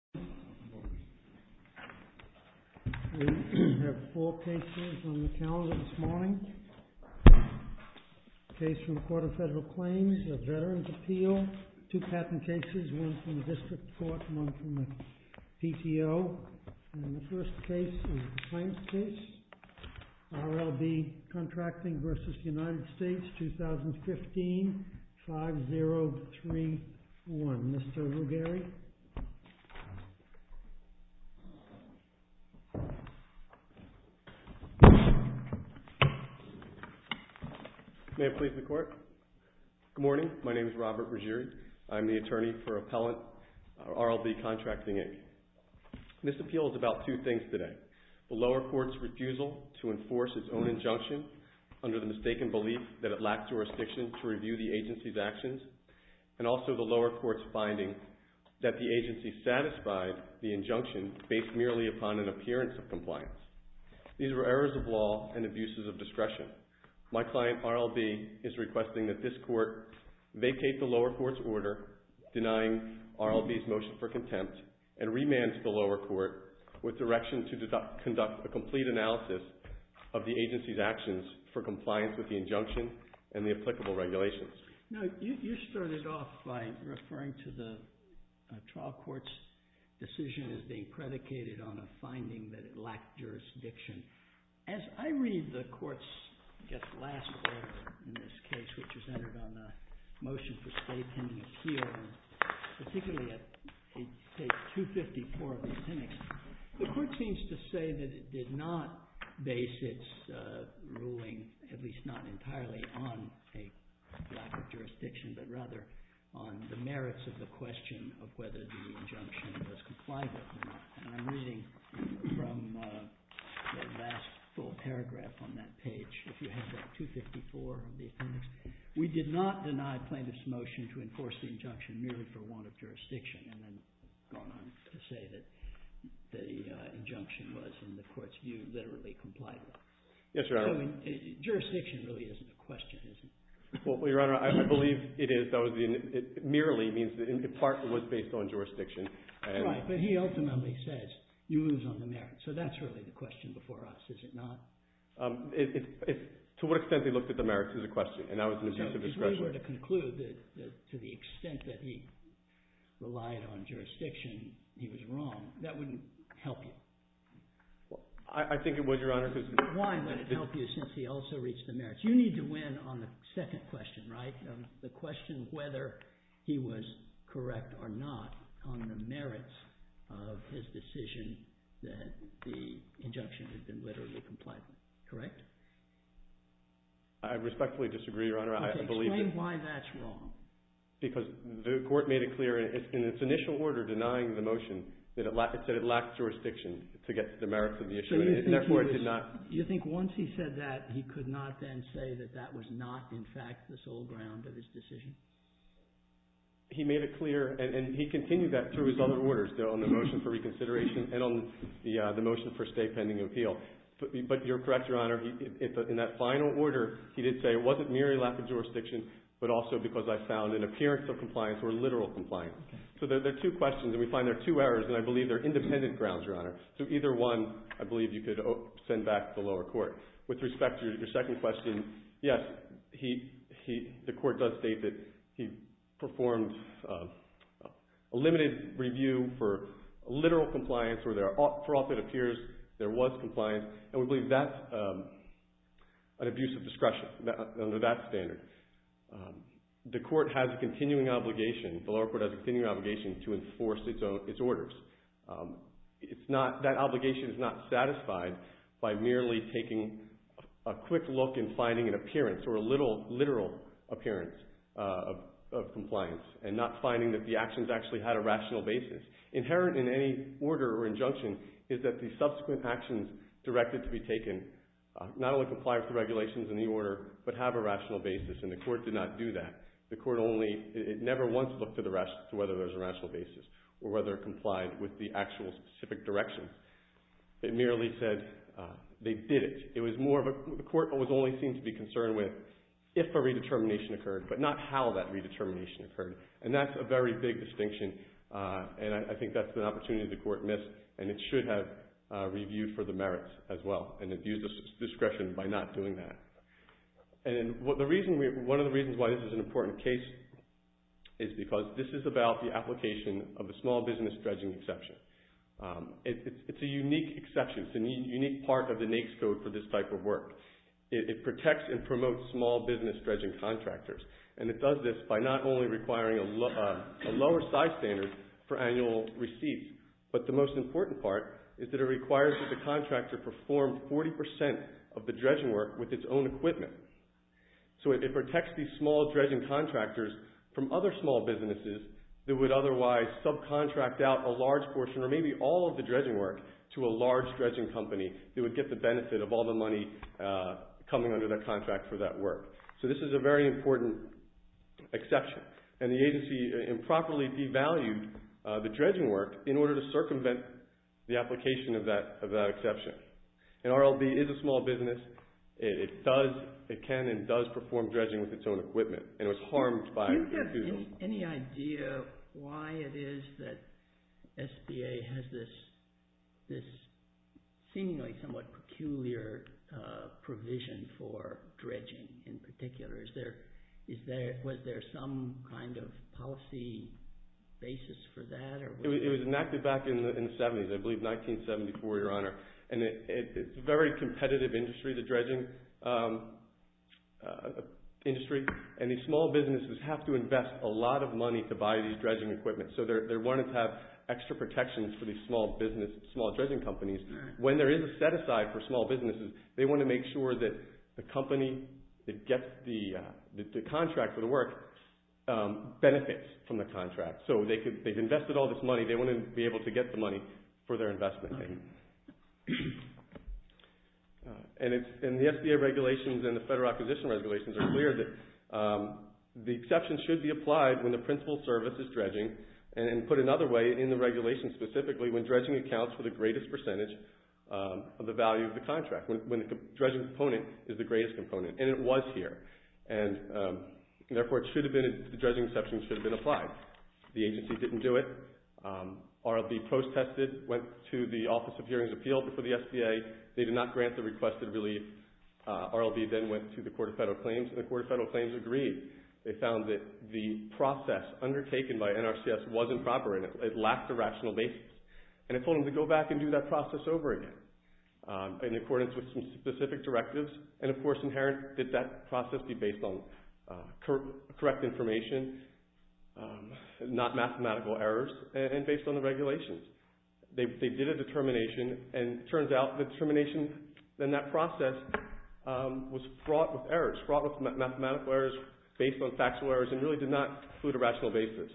2015-5031. Mr. Ruggieri. Good morning. My name is Robert Ruggieri. I'm the attorney for Appellant RLB Contracting, Inc. This appeal is about two things today. The lower court's refusal to enforce its own injunction under the mistaken belief that it lacked jurisdiction to review the agency's actions, and also the lower court's finding that the agency satisfied the injunction based merely upon an appearance of compliance. These were errors of law and abuses of discretion. My client, RLB, is requesting that this court vacate the lower court's order denying RLB's motion for contempt and remand to the lower court with direction to conduct a complete analysis of the agency's actions for compliance with the injunction and the applicable regulations. Now, you started off by referring to the trial court's decision as being predicated on a finding that it lacked jurisdiction. As I read the court's, I guess, last order in this case, which was entered on the motion for state pending appeal, particularly at page 254 of the appendix, the court seems to say that it did not base its ruling, at least not on the lack of jurisdiction, but rather on the merits of the question of whether the injunction was compliant or not. And I'm reading from the last full paragraph on that page, if you have that, 254 of the appendix. We did not deny plaintiff's motion to enforce the injunction merely for want of jurisdiction, and then gone on to say that the injunction was, in the court's view, literally compliant. Yes, Your Honor. Jurisdiction really isn't a question, is it? Well, Your Honor, I believe it is. Merely means that in part it was based on jurisdiction. Right, but he ultimately says, you lose on the merits. So that's really the question before us, is it not? To what extent they looked at the merits is a question, and that was an exclusive discretionary. So if we were to conclude that to the extent that he relied on jurisdiction, he was wrong, I think it would, Your Honor. Why would it help you since he also reached the merits? You need to win on the second question, right? The question of whether he was correct or not on the merits of his decision that the injunction had been literally compliant. Correct? I respectfully disagree, Your Honor. I believe that... Explain why that's wrong. Because the court made it clear in its initial order denying the motion that it lacked jurisdiction to get the merits of the issue, and therefore it did not... Do you think once he said that, he could not then say that that was not in fact the sole ground of his decision? He made it clear, and he continued that through his other orders, though, on the motion for reconsideration and on the motion for state pending appeal. But you're correct, Your Honor. In that final order, he did say it wasn't merely lack of jurisdiction, but also because I found an appearance of compliance or literal compliance. So there are two questions, and we find there are two errors, and I believe they're independent grounds, Your Honor. So either one I believe you could send back to the lower court. With respect to your second question, yes, the court does state that he performed a limited review for literal compliance where there often appears there was compliance, and we believe that's an abuse of discretion under that standard. The court has a continuing obligation, the lower court has a continuing obligation to enforce its orders. That obligation is not satisfied by merely taking a quick look and finding an appearance or a literal appearance of compliance and not finding that the actions actually had a rational basis. Inherent in any order or injunction is that the subsequent actions directed to be taken not only comply with the regulations in the order but have a rational basis, and the court did not do that. The court only... It never once looked to whether there's a rational basis or whether it complied with the actual specific direction. It merely said they didn't. The court was only seen to be concerned with if a redetermination occurred, but not how that redetermination occurred, and that's a very big distinction, and I think that's an opportunity the court missed, and it should have reviewed for the merits as well and abused its discretion by not doing that. One of the reasons this is an important case is because this is about the application of the small business dredging exception. It's a unique exception. It's a unique part of the NAICS Code for this type of work. It protects and promotes small business dredging contractors, and it does this by not only requiring a lower size standard for annual receipts, but the most important part is that it requires that the contractor perform 40% of the dredging work with its own equipment, so it protects these small dredging contractors from other small businesses that would otherwise subcontract out a large portion or maybe all of the dredging work to a large dredging company that would get the benefit of all the money coming under their contract for that work, so this is a very important exception, and the agency improperly devalued the dredging work in order to circumvent the application of that exception, and RLB is a small business. It can and does perform dredging with its own equipment, and it was harmed by it. Do you have any idea why it is that SBA has this seemingly somewhat peculiar provision for dredging in particular? Was there some kind of policy basis for that? It was enacted back in the 70s, I believe in 1974, Your Honor, and it's a very competitive industry, the dredging industry, and these small businesses have to invest a lot of money to buy these dredging equipment, so they wanted to have extra protections for these small dredging companies. When there is a set aside for small businesses, they want to make sure that the company that gets the contract for the work benefits from the contract, so they've invested all this money. They want to be able to get the money for their investment. The SBA regulations and the Federal Acquisition Regulations are clear that the exception should be applied when the principal service is dredging, and put another way, in the regulation specifically, when dredging accounts for the greatest percentage of the value of the contract, when the dredging component is the greatest component, and it was here. Therefore, the dredging exception should have been applied. The agency didn't do it. RLB post-tested, went to the Office of Hearings and Appeals before the SBA. They did not grant the requested relief. RLB then went to the Court of Federal Claims, and the Court of Federal Claims agreed. They found that the process undertaken by NRCS wasn't proper, and it lacked a rational basis, and it told them to go back and do that process over again, in accordance with some specific directives, and of course, inherent that that and based on the regulations. They did a determination, and it turns out the determination in that process was fraught with errors, fraught with mathematical errors, based on factual errors, and really did not include a rational basis.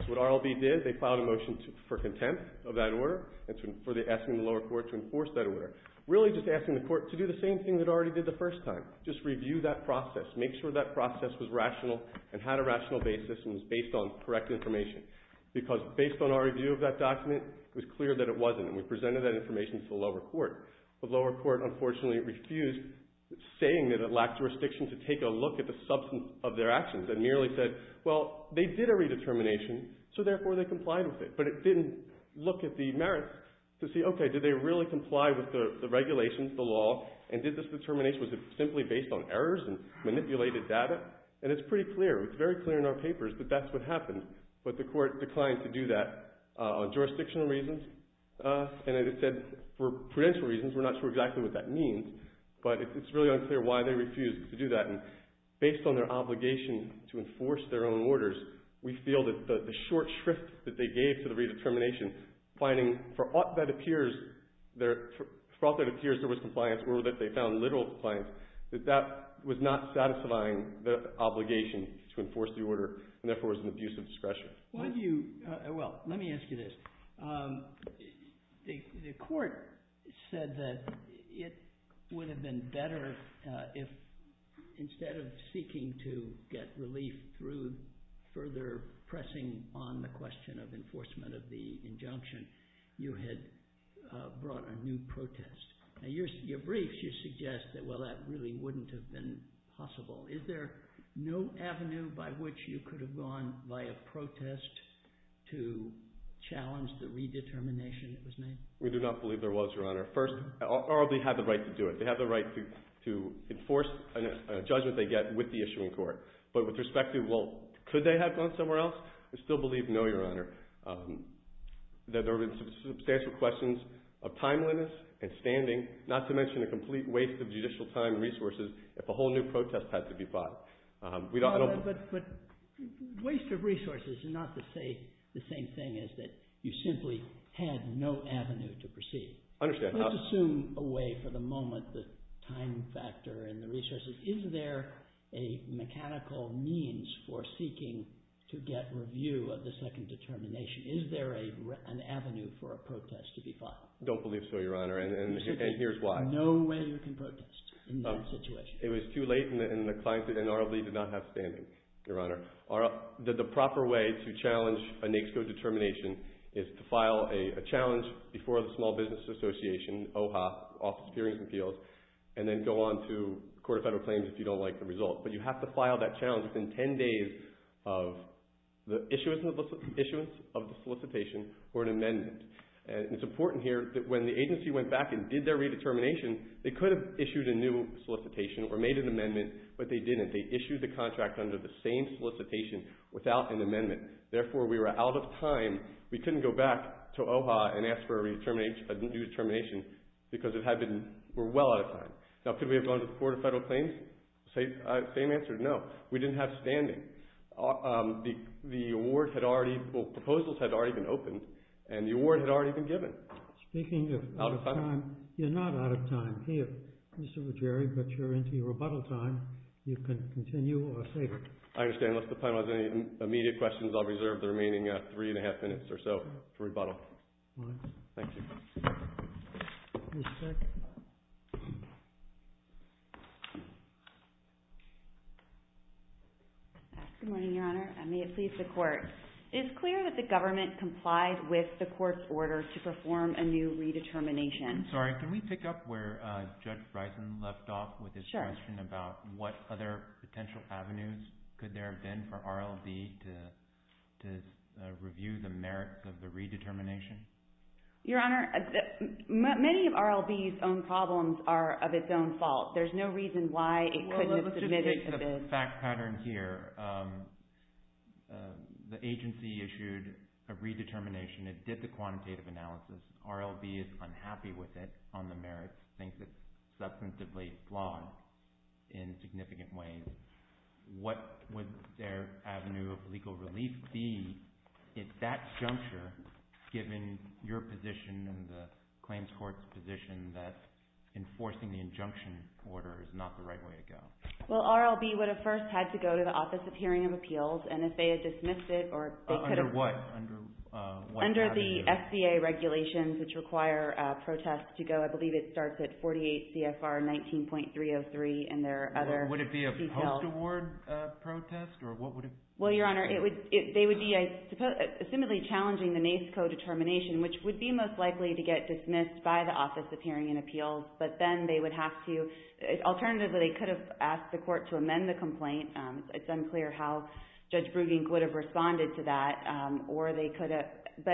So what RLB did, they filed a motion for contempt of that order, asking the lower court to enforce that order, really just asking the court to do the same thing it already did the first time, just review that process, make sure that process was rational, and had a rational basis, and was based on correct information, because based on our review of that document, it was clear that it wasn't, and we presented that information to the lower court. The lower court, unfortunately, refused, saying that it lacked jurisdiction to take a look at the substance of their actions, and merely said, well, they did a redetermination, so therefore they complied with it, but it didn't look at the merits to see, okay, did they really comply with the regulations, the law, and did this determination, was it simply based on errors and manipulated data, and it's pretty clear, it's very clear in our papers that that's what happened, but the court declined to do that, on jurisdictional reasons, and it said, for prudential reasons, we're not sure exactly what that means, but it's really unclear why they refused to do that, and based on their obligation to enforce their own orders, we feel that the short shrift that they gave to the redetermination, finding, for what that appears, for what that appears there was compliance, or that they found literal compliance, that that was not satisfying the obligation to enforce the order, and therefore was an abuse of discretion. Well, let me ask you this. The court said that it would have been better if, instead of seeking to get relief through further pressing on the question of enforcement of the injunction, you had brought a new protest. In your briefs, you suggest that, well, that really wouldn't have been possible. Is there no avenue by which you could have gone via protest to challenge the redetermination that was made? We do not believe there was, Your Honor. First, or they had the right to do it. They had the right to enforce a judgment they get with the issuing court, but with respect to, well, could they have gone somewhere else? We still believe no, Your Honor. There have been substantial questions of timeliness and standing, not to mention a complete waste of judicial time and resources if a whole new protest had to be fought. But waste of resources is not to say the same thing as that you simply had no avenue to proceed. I understand. Let's assume away for the moment the time factor and the resources. Is there a mechanical means for seeking to get review of the second determination? Is there an avenue for a protest to be filed? Don't believe so, Your Honor, and here's why. No way you can protest in that situation. It was too late, and the client, in our belief, did not have standing, Your Honor. The proper way to challenge a NAICS Code determination is to file a challenge before the Small Business Association, OHA, Office of Appeals, and then go on to the Court of Federal Claims if you don't like the result. But you have to file that challenge within 10 days of the issuance of the solicitation or an amendment. It's important here that when the agency went back and did their redetermination, they could have issued a new solicitation or made an amendment, but they didn't. They issued the contract under the same solicitation without an amendment. Therefore, we were out of time. We couldn't go back to OHA and ask for a new determination because we were well out of time. Now, could we have gone to the Court of Federal Claims? Same answer, no. We didn't have standing. The award had already, well, proposals had already been opened, and the award had already been given. Speaking of out of time, you're not out of time here, Mr. Wojary, but you're into your rebuttal time. You can continue or say it. I understand. Unless the panel has any immediate questions, I'll reserve the remaining three and a half minutes or so to rebuttal. All right. Thank you. Ms. Speck. Good morning, Your Honor, and may it please the Court. It's clear that the government complied with the Court's order to perform a new redetermination. I'm sorry. Can we pick up where Judge Bryson left off with his question about what other potential avenues could there have been for RLD to review the merits of the redetermination? Your Honor, many of RLD's own problems are of its own fault. There's no reason why it couldn't have submitted to this. Well, let's just take the fact pattern here. The agency issued a redetermination. It did the quantitative analysis. RLD is unhappy with it on the merits, thinks it's substantively flawed in significant ways. What would their avenue of legal relief be at that juncture given your position and the Claims Court's position that enforcing the injunction order is not the right way to go? Well, RLD would have first had to go to the Office of Hearing and Appeals, and if they had dismissed it or they could have… Under what avenue? Under the FBA regulations, which require protests to go. I believe it starts at 48 CFR 19.303 and there are other details. Would it be a post-award protest or what would it be? Well, Your Honor, they would be assumedly challenging the NACE co-determination, which would be most likely to get dismissed by the Office of Hearing and Appeals, but then they would have to… Alternatively, they could have asked the court to amend the complaint. It's unclear how Judge Brugink would have responded to that, or they could have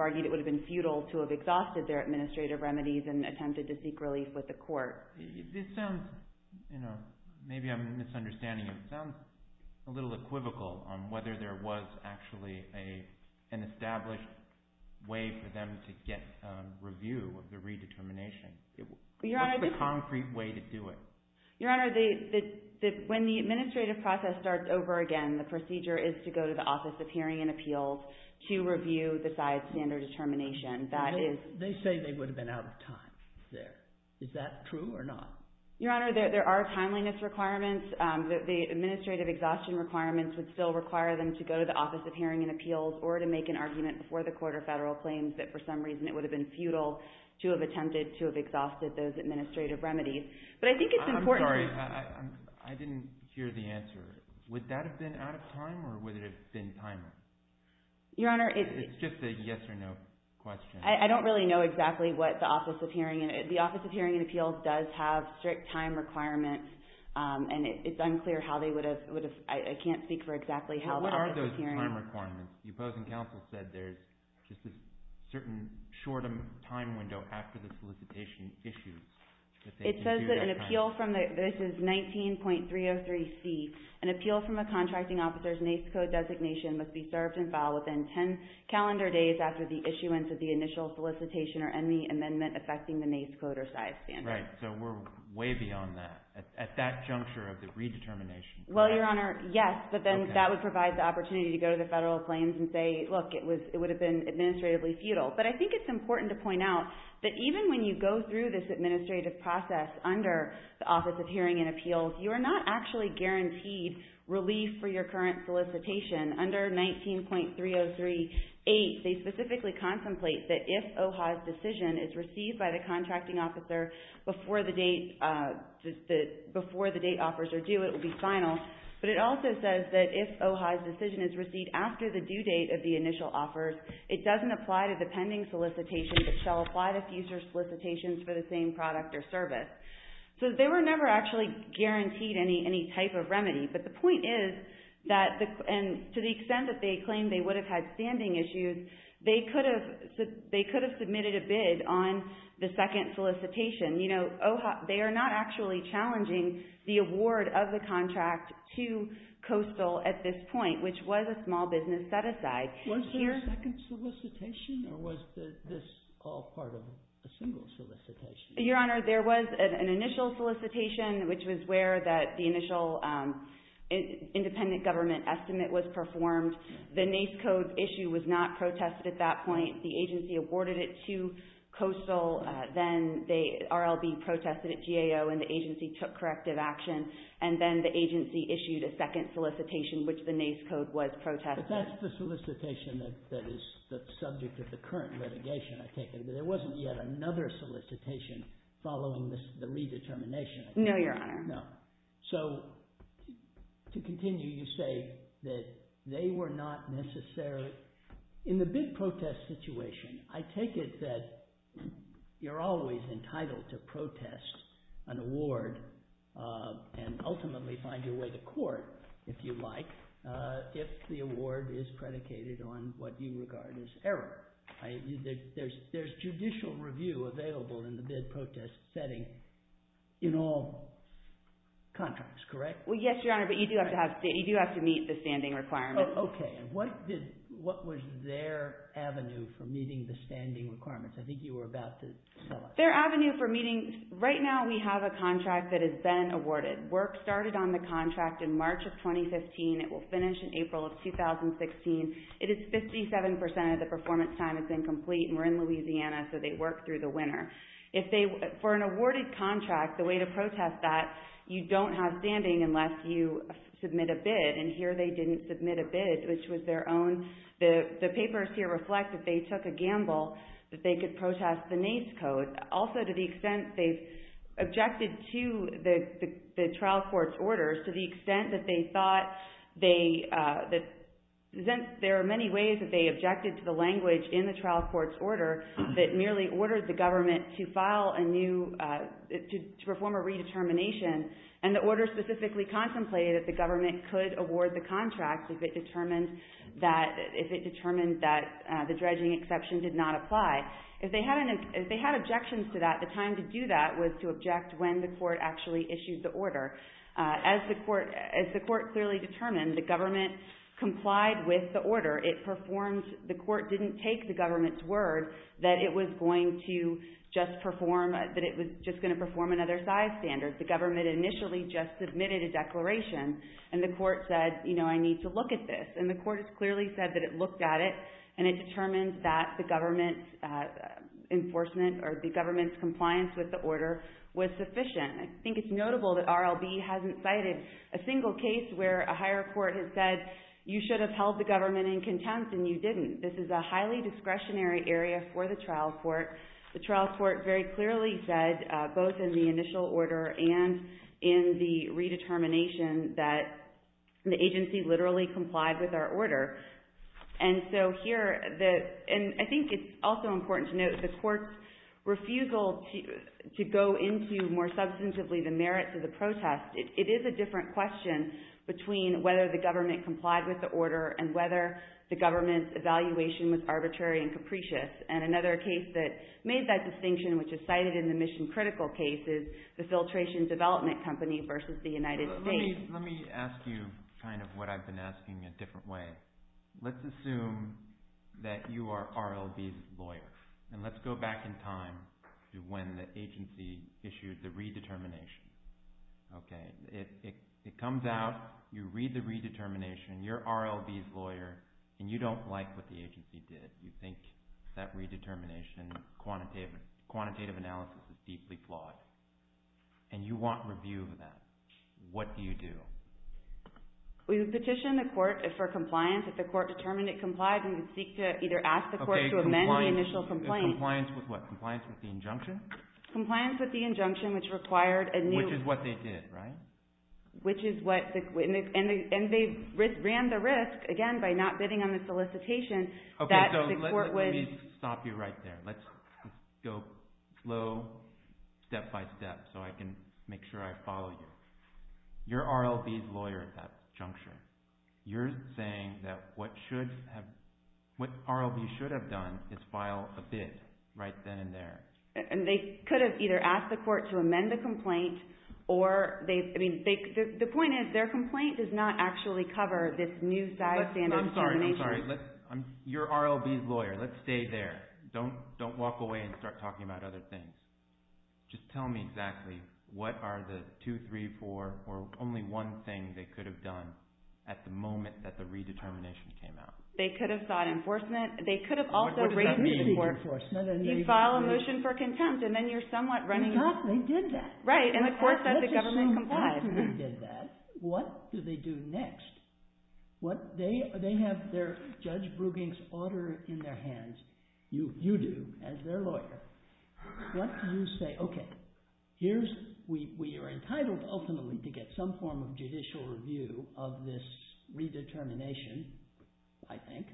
argued it would have been futile to have exhausted their administrative remedies and attempted to seek relief with the court. Your Honor, this sounds… Maybe I'm misunderstanding you. It sounds a little equivocal on whether there was actually an established way for them to get review of the redetermination. What's the concrete way to do it? Your Honor, when the administrative process starts over again, the procedure is to go to the Office of Hearing and Appeals to review the side standard determination. They say they would have been out of time there. Is that true or not? Your Honor, there are timeliness requirements. The administrative exhaustion requirements would still require them to go to the Office of Hearing and Appeals or to make an argument before the court or federal claims that for some reason it would have been futile to have attempted to have exhausted those administrative remedies. But I think it's important… I'm sorry. I didn't hear the answer. Would that have been out of time or would it have been timely? Your Honor, it's… It's just a yes or no question. I don't really know exactly what the Office of Hearing and… The Office of Hearing and Appeals does have strict time requirements and it's unclear how they would have… I can't speak for exactly how the Office of Hearing… What are those time requirements? The opposing counsel said there's just a certain short time window after the solicitation issues. It says that an appeal from the… This is 19.303C. An appeal from a contracting officer's office is reserved and filed within 10 calendar days after the issuance of the initial solicitation or any amendment affecting the NACE coder size standard. Right. So we're way beyond that. At that juncture of the redetermination, correct? Well, Your Honor, yes, but then that would provide the opportunity to go to the federal claims and say, look, it would have been administratively futile. But I think it's important to point out that even when you go through this administrative process under the Office of Hearing and Appeals, you are not actually guaranteed relief for your current solicitation. Under 19.303A, they specifically contemplate that if OHA's decision is received by the contracting officer before the date offers are due, it will be final. But it also says that if OHA's decision is received after the due date of the initial offers, it doesn't apply to the pending solicitation but shall apply to future solicitations for the same product or service. So they were never actually guaranteed any type of remedy. But the point is that to the extent that they claim they would have had standing issues, they could have submitted a bid on the second solicitation. They are not actually challenging the award of the contract to Coastal at this point, which was a small business set-aside. Was there a second solicitation or was this all part of a single solicitation? Your Honor, there was an initial solicitation, which was where the initial independent government estimate was performed. The NACE code issue was not protested at that point. The agency awarded it to Coastal. Then the RLB protested at GAO and the agency took corrective action. And then the agency issued a second solicitation, which the NACE code was protested. But that's the solicitation that is the subject of the current litigation, I take it. But there wasn't yet another solicitation following the redetermination. No, Your Honor. No. So to continue, you say that they were not necessarily... In the bid protest situation, I take it that you're always entitled to protest an award and ultimately find your way to court, if you like, if the award is predicated on what you regard as error. There's judicial review available in the bid protest setting in all contracts, correct? Well, yes, Your Honor, but you do have to meet the standing requirements. Okay. What was their avenue for meeting the standing requirements? I think you were about to tell us. Their avenue for meeting... Right now, we have a contract that has been awarded. Work started on the contract in March of 2015. It will finish in April of 2016. It is 57% of the performance time is incomplete and we're in Louisiana, so they work through the winter. For an awarded contract, the way to protest that, you don't have standing unless you submit a bid. And here they didn't submit a bid, which was their own... The papers here reflect that they took a gamble that they could protest the NACE code. Also, to the extent that they thought they... There are many ways that they objected to the language in the trial court's order that merely ordered the government to file a new... To perform a redetermination and the order specifically contemplated that the government could award the contract if it determined that the dredging exception did not apply. If they had objections to that, the time to do that was to object when the court actually issued the order. As the court clearly determined, the government complied with the order. It performed... The court didn't take the government's word that it was going to just perform... That it was just going to perform another size standard. The government initially just submitted a declaration and the court said, you know, I need to look at this. And the court clearly said that it looked at it and it determined that the government's enforcement or the government's compliance with the order was sufficient. I think it's notable that RLB hasn't cited a single case where a higher court has said, you should have held the government in contempt and you didn't. This is a highly discretionary area for the trial court. The trial court very clearly said, both in the initial order and in the redetermination, that the agency literally complied with our order. And so here... And I think it's also important to note the court's refusal to go into more substantively the merits of the protest. It is a different question between whether the government complied with the order and whether the government's evaluation was arbitrary and capricious. And another case that made that distinction, which is cited in the mission critical case, is the filtration development company versus the United States. Let me ask you kind of what I've been asking in a different way. Let's assume that you are RLB's lawyer. And let's go back in time to when the agency issued the redetermination. Okay. It comes out, you read the redetermination, you're RLB's lawyer, and you don't like what the agency did. You think that redetermination quantitative analysis is deeply flawed. And you want review of that. What do you do? We petition the court for compliance. If the court determined it complied, we would seek to either ask the court to amend the initial complaint. Compliance with what? Compliance with the injunction? Compliance with the injunction, which required a new... Which is what they did, right? Which is what... And they ran the risk, again, by not bidding on the solicitation, that the court would... Make sure I follow you. You're RLB's lawyer at that juncture. You're saying that what RLB should have done is file a bid right then and there. And they could have either asked the court to amend the complaint or they... The point is, their complaint does not actually cover this new standard determination. I'm sorry. I'm sorry. You're RLB's lawyer. Let's stay there. Don't walk away and start talking about other things. Just tell me exactly, what are the two, three, four, or only one thing they could have done at the moment that the redetermination came out? They could have sought enforcement. They could have also raised the court... What does that mean, enforcement? You file a motion for contempt and then you're somewhat running... Exactly. They did that. Right. And the court said the government complied. Let's assume that they did that. What do they do next? They have Judge Brueging's order in their hands. You do, as their lawyer. What do you say, okay, we are entitled ultimately to get some form of judicial review of this redetermination, I think,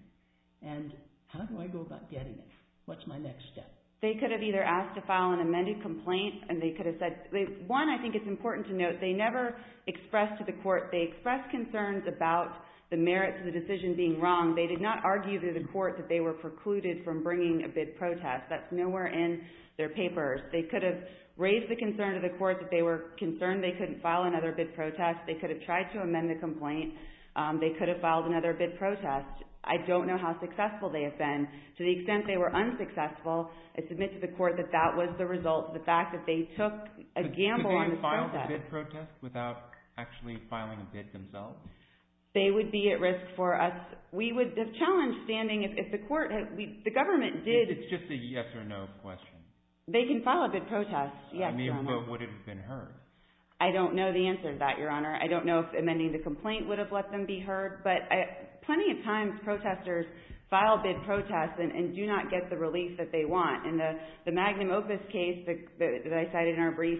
and how do I go about getting it? What's my next step? They could have either asked to file an amended complaint and they could have said... One, I think it's important to note, they never expressed to the court... They expressed concerns about the merits of the decision being wrong. They did not argue to the court that they were precluded from bringing a bid protest. That's nowhere in their papers. They could have raised the concern to the court that they were concerned they couldn't file another bid protest. They could have tried to amend the complaint. They could have filed another bid protest. I don't know how successful they have been. To the extent they were unsuccessful, I submit to the court that that was the result, the fact that they took a gamble on the protest. Could they have filed a bid protest without actually filing a bid themselves? They would be at risk for us. We would have challenged standing if the court had... The government did... It's just a yes or no question. They can file a bid protest, yes, Your Honor. I mean, what would have been heard? I don't know the answer to that, Your Honor. I don't know if amending the complaint would have let them be heard, but plenty of times protesters file bid protests and do not get the relief that they want. In the Magnum Opus case that I cited in our brief,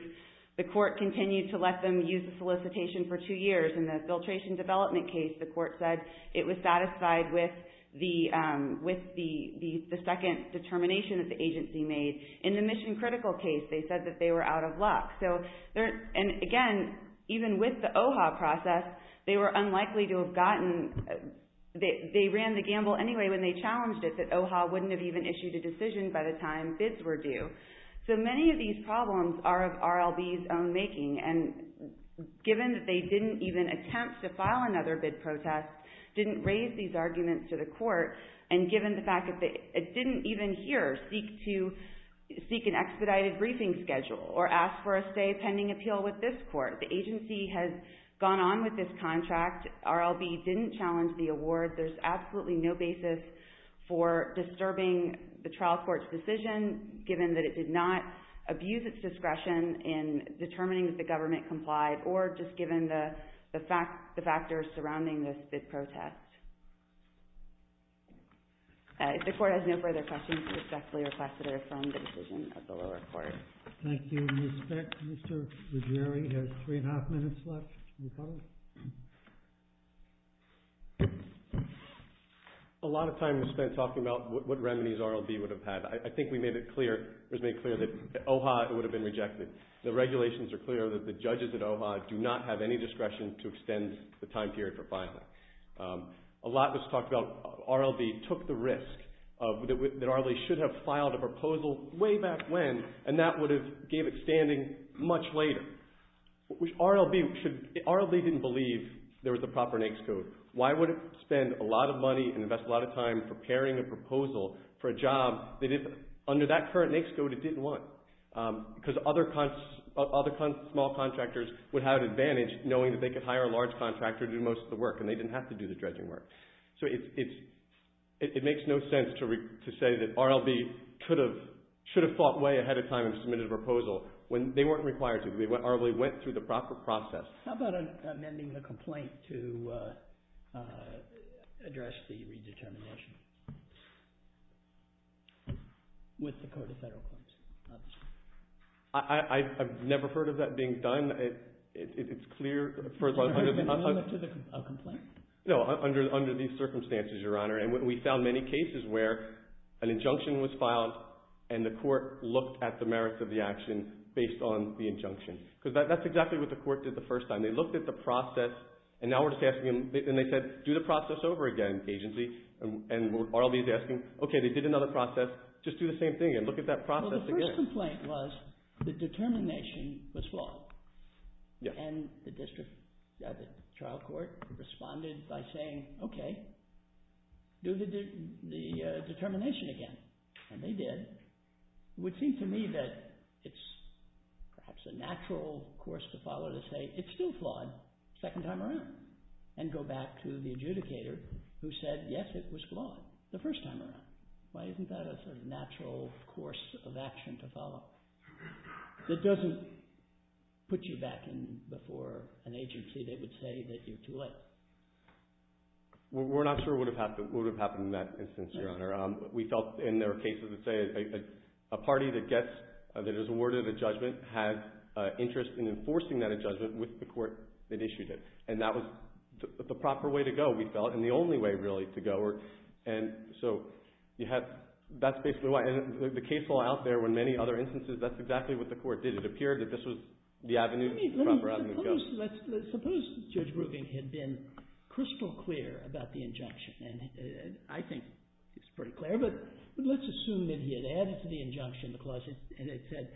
the court continued to let them use the solicitation for two years. In the filtration development case, the court said it was satisfied with the second determination that the agency made. In the mission critical case, they said that they were out of luck. Again, even with the OHA process, they were unlikely to have gotten... They ran the gamble anyway when they challenged it that OHA wouldn't have even issued a decision by the time bids were due. So many of these problems are of RLB's own making, and given that they didn't even attempt to file another bid protest, didn't raise these arguments to the court, and given the fact that they didn't even here seek an expedited briefing schedule or ask for a stay pending appeal with this court. The agency has gone on with this contract. RLB didn't challenge the award. There's absolutely no basis for disturbing the trial court's decision, given that it did not abuse its discretion in determining that the government complied, or just given the factors surrounding this bid protest. If the court has no further questions, I respectfully request that I affirm the decision of the lower court. Thank you. With all due respect, Mr. Ruggieri has three and a half minutes left. You follow? A lot of time was spent talking about what remedies RLB would have had. I think we made it clear, it was made clear that at OHA it would have been rejected. The regulations are clear that the judges at OHA do not have any discretion to extend the time period for filing. A lot was talked about, RLB took the risk that RLB should have filed a proposal way back when, and that would have gave it standing much later. RLB didn't believe there was a proper NAICS code. Why would it spend a lot of money and invest a lot of time preparing a proposal for a job that under that current NAICS code it didn't want? Because other small contractors would have an advantage knowing that they could hire a large contractor to do most of the work, and they didn't have to do the dredging work. So it makes no sense to say that RLB should have thought way ahead of time and submitted a proposal when they weren't required to. RLB went through the proper process. How about amending the complaint to address the redetermination with the Code of Federal Claims? I've never heard of that being done. It's clear. Amendment to a complaint? No, under these circumstances, Your Honor. And we found many cases where an injunction was filed and the court looked at the merits of the action based on the injunction. Because that's exactly what the court did the first time. They looked at the process, and now we're just asking them, and they said, do the process over again, agency. And RLB is asking, okay, they did another process. Just do the same thing again. Look at that process again. Well, the first complaint was the determination was flawed. And the district trial court responded by saying, okay, do the determination again. And they did. It would seem to me that it's perhaps a natural course to follow to say it's still flawed the second time around and go back to the adjudicator who said, yes, it was flawed the first time around. Why isn't that a sort of natural course of action to follow? It doesn't put you back in before an agency. They would say that you're too late. We're not sure what would have happened in that instance, Your Honor. We felt in their cases that say a party that gets, that is awarded a judgment, had interest in enforcing that judgment with the court that issued it. And that was the proper way to go, we felt, and the only way, really, to go. And so that's basically why. And the case law out there, when many other instances, that's exactly what the court did. It appeared that this was the avenue, the proper avenue to go. Suppose Judge Grubing had been crystal clear about the injunction. And I think he's pretty clear. But let's assume that he had added to the injunction the clause, and it said,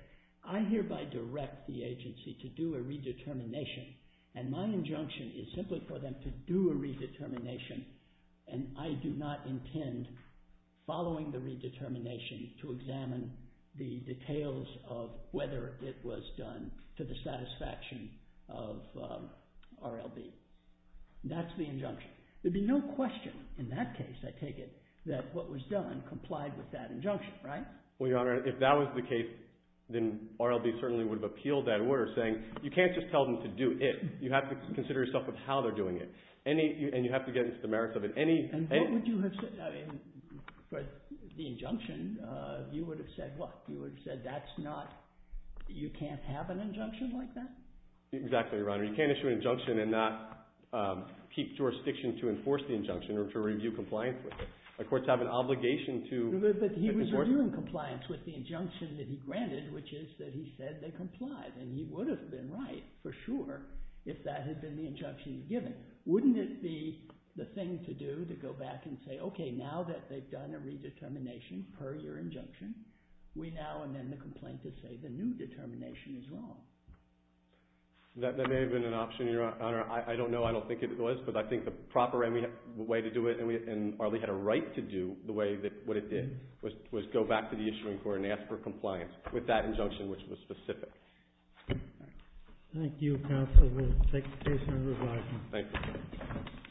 I hereby direct the agency to do a redetermination, and my injunction is simply for them to do a redetermination, and I do not intend, following the redetermination, to examine the details of whether it was done to the satisfaction of RLB. That's the injunction. There'd be no question in that case, I take it, that what was done complied with that injunction, right? Well, Your Honor, if that was the case, then RLB certainly would have appealed that order, saying, you can't just tell them to do it. You have to consider yourself of how they're doing it. And you have to get into the merits of it. And what would you have said? For the injunction, you would have said what? You would have said, you can't have an injunction like that? Exactly, Your Honor. You can't issue an injunction and not keep jurisdiction to enforce the injunction or to review compliance with it. The courts have an obligation to enforce it. But he was reviewing compliance with the injunction that he granted, which is that he said they complied. And he would have been right, for sure, if that had been the injunction he'd given. Wouldn't it be the thing to do to go back and say, okay, now that they've done a redetermination per your injunction, we now amend the complaint to say the new determination is wrong? That may have been an option, Your Honor. I don't know. I don't think it was. But I think the proper way to do it, and RLB had a right to do what it did, was go back to the issuing court and ask for compliance with that injunction, which was specific. Thank you, counsel. Thank you, Your Honor. Thank you. Thank you.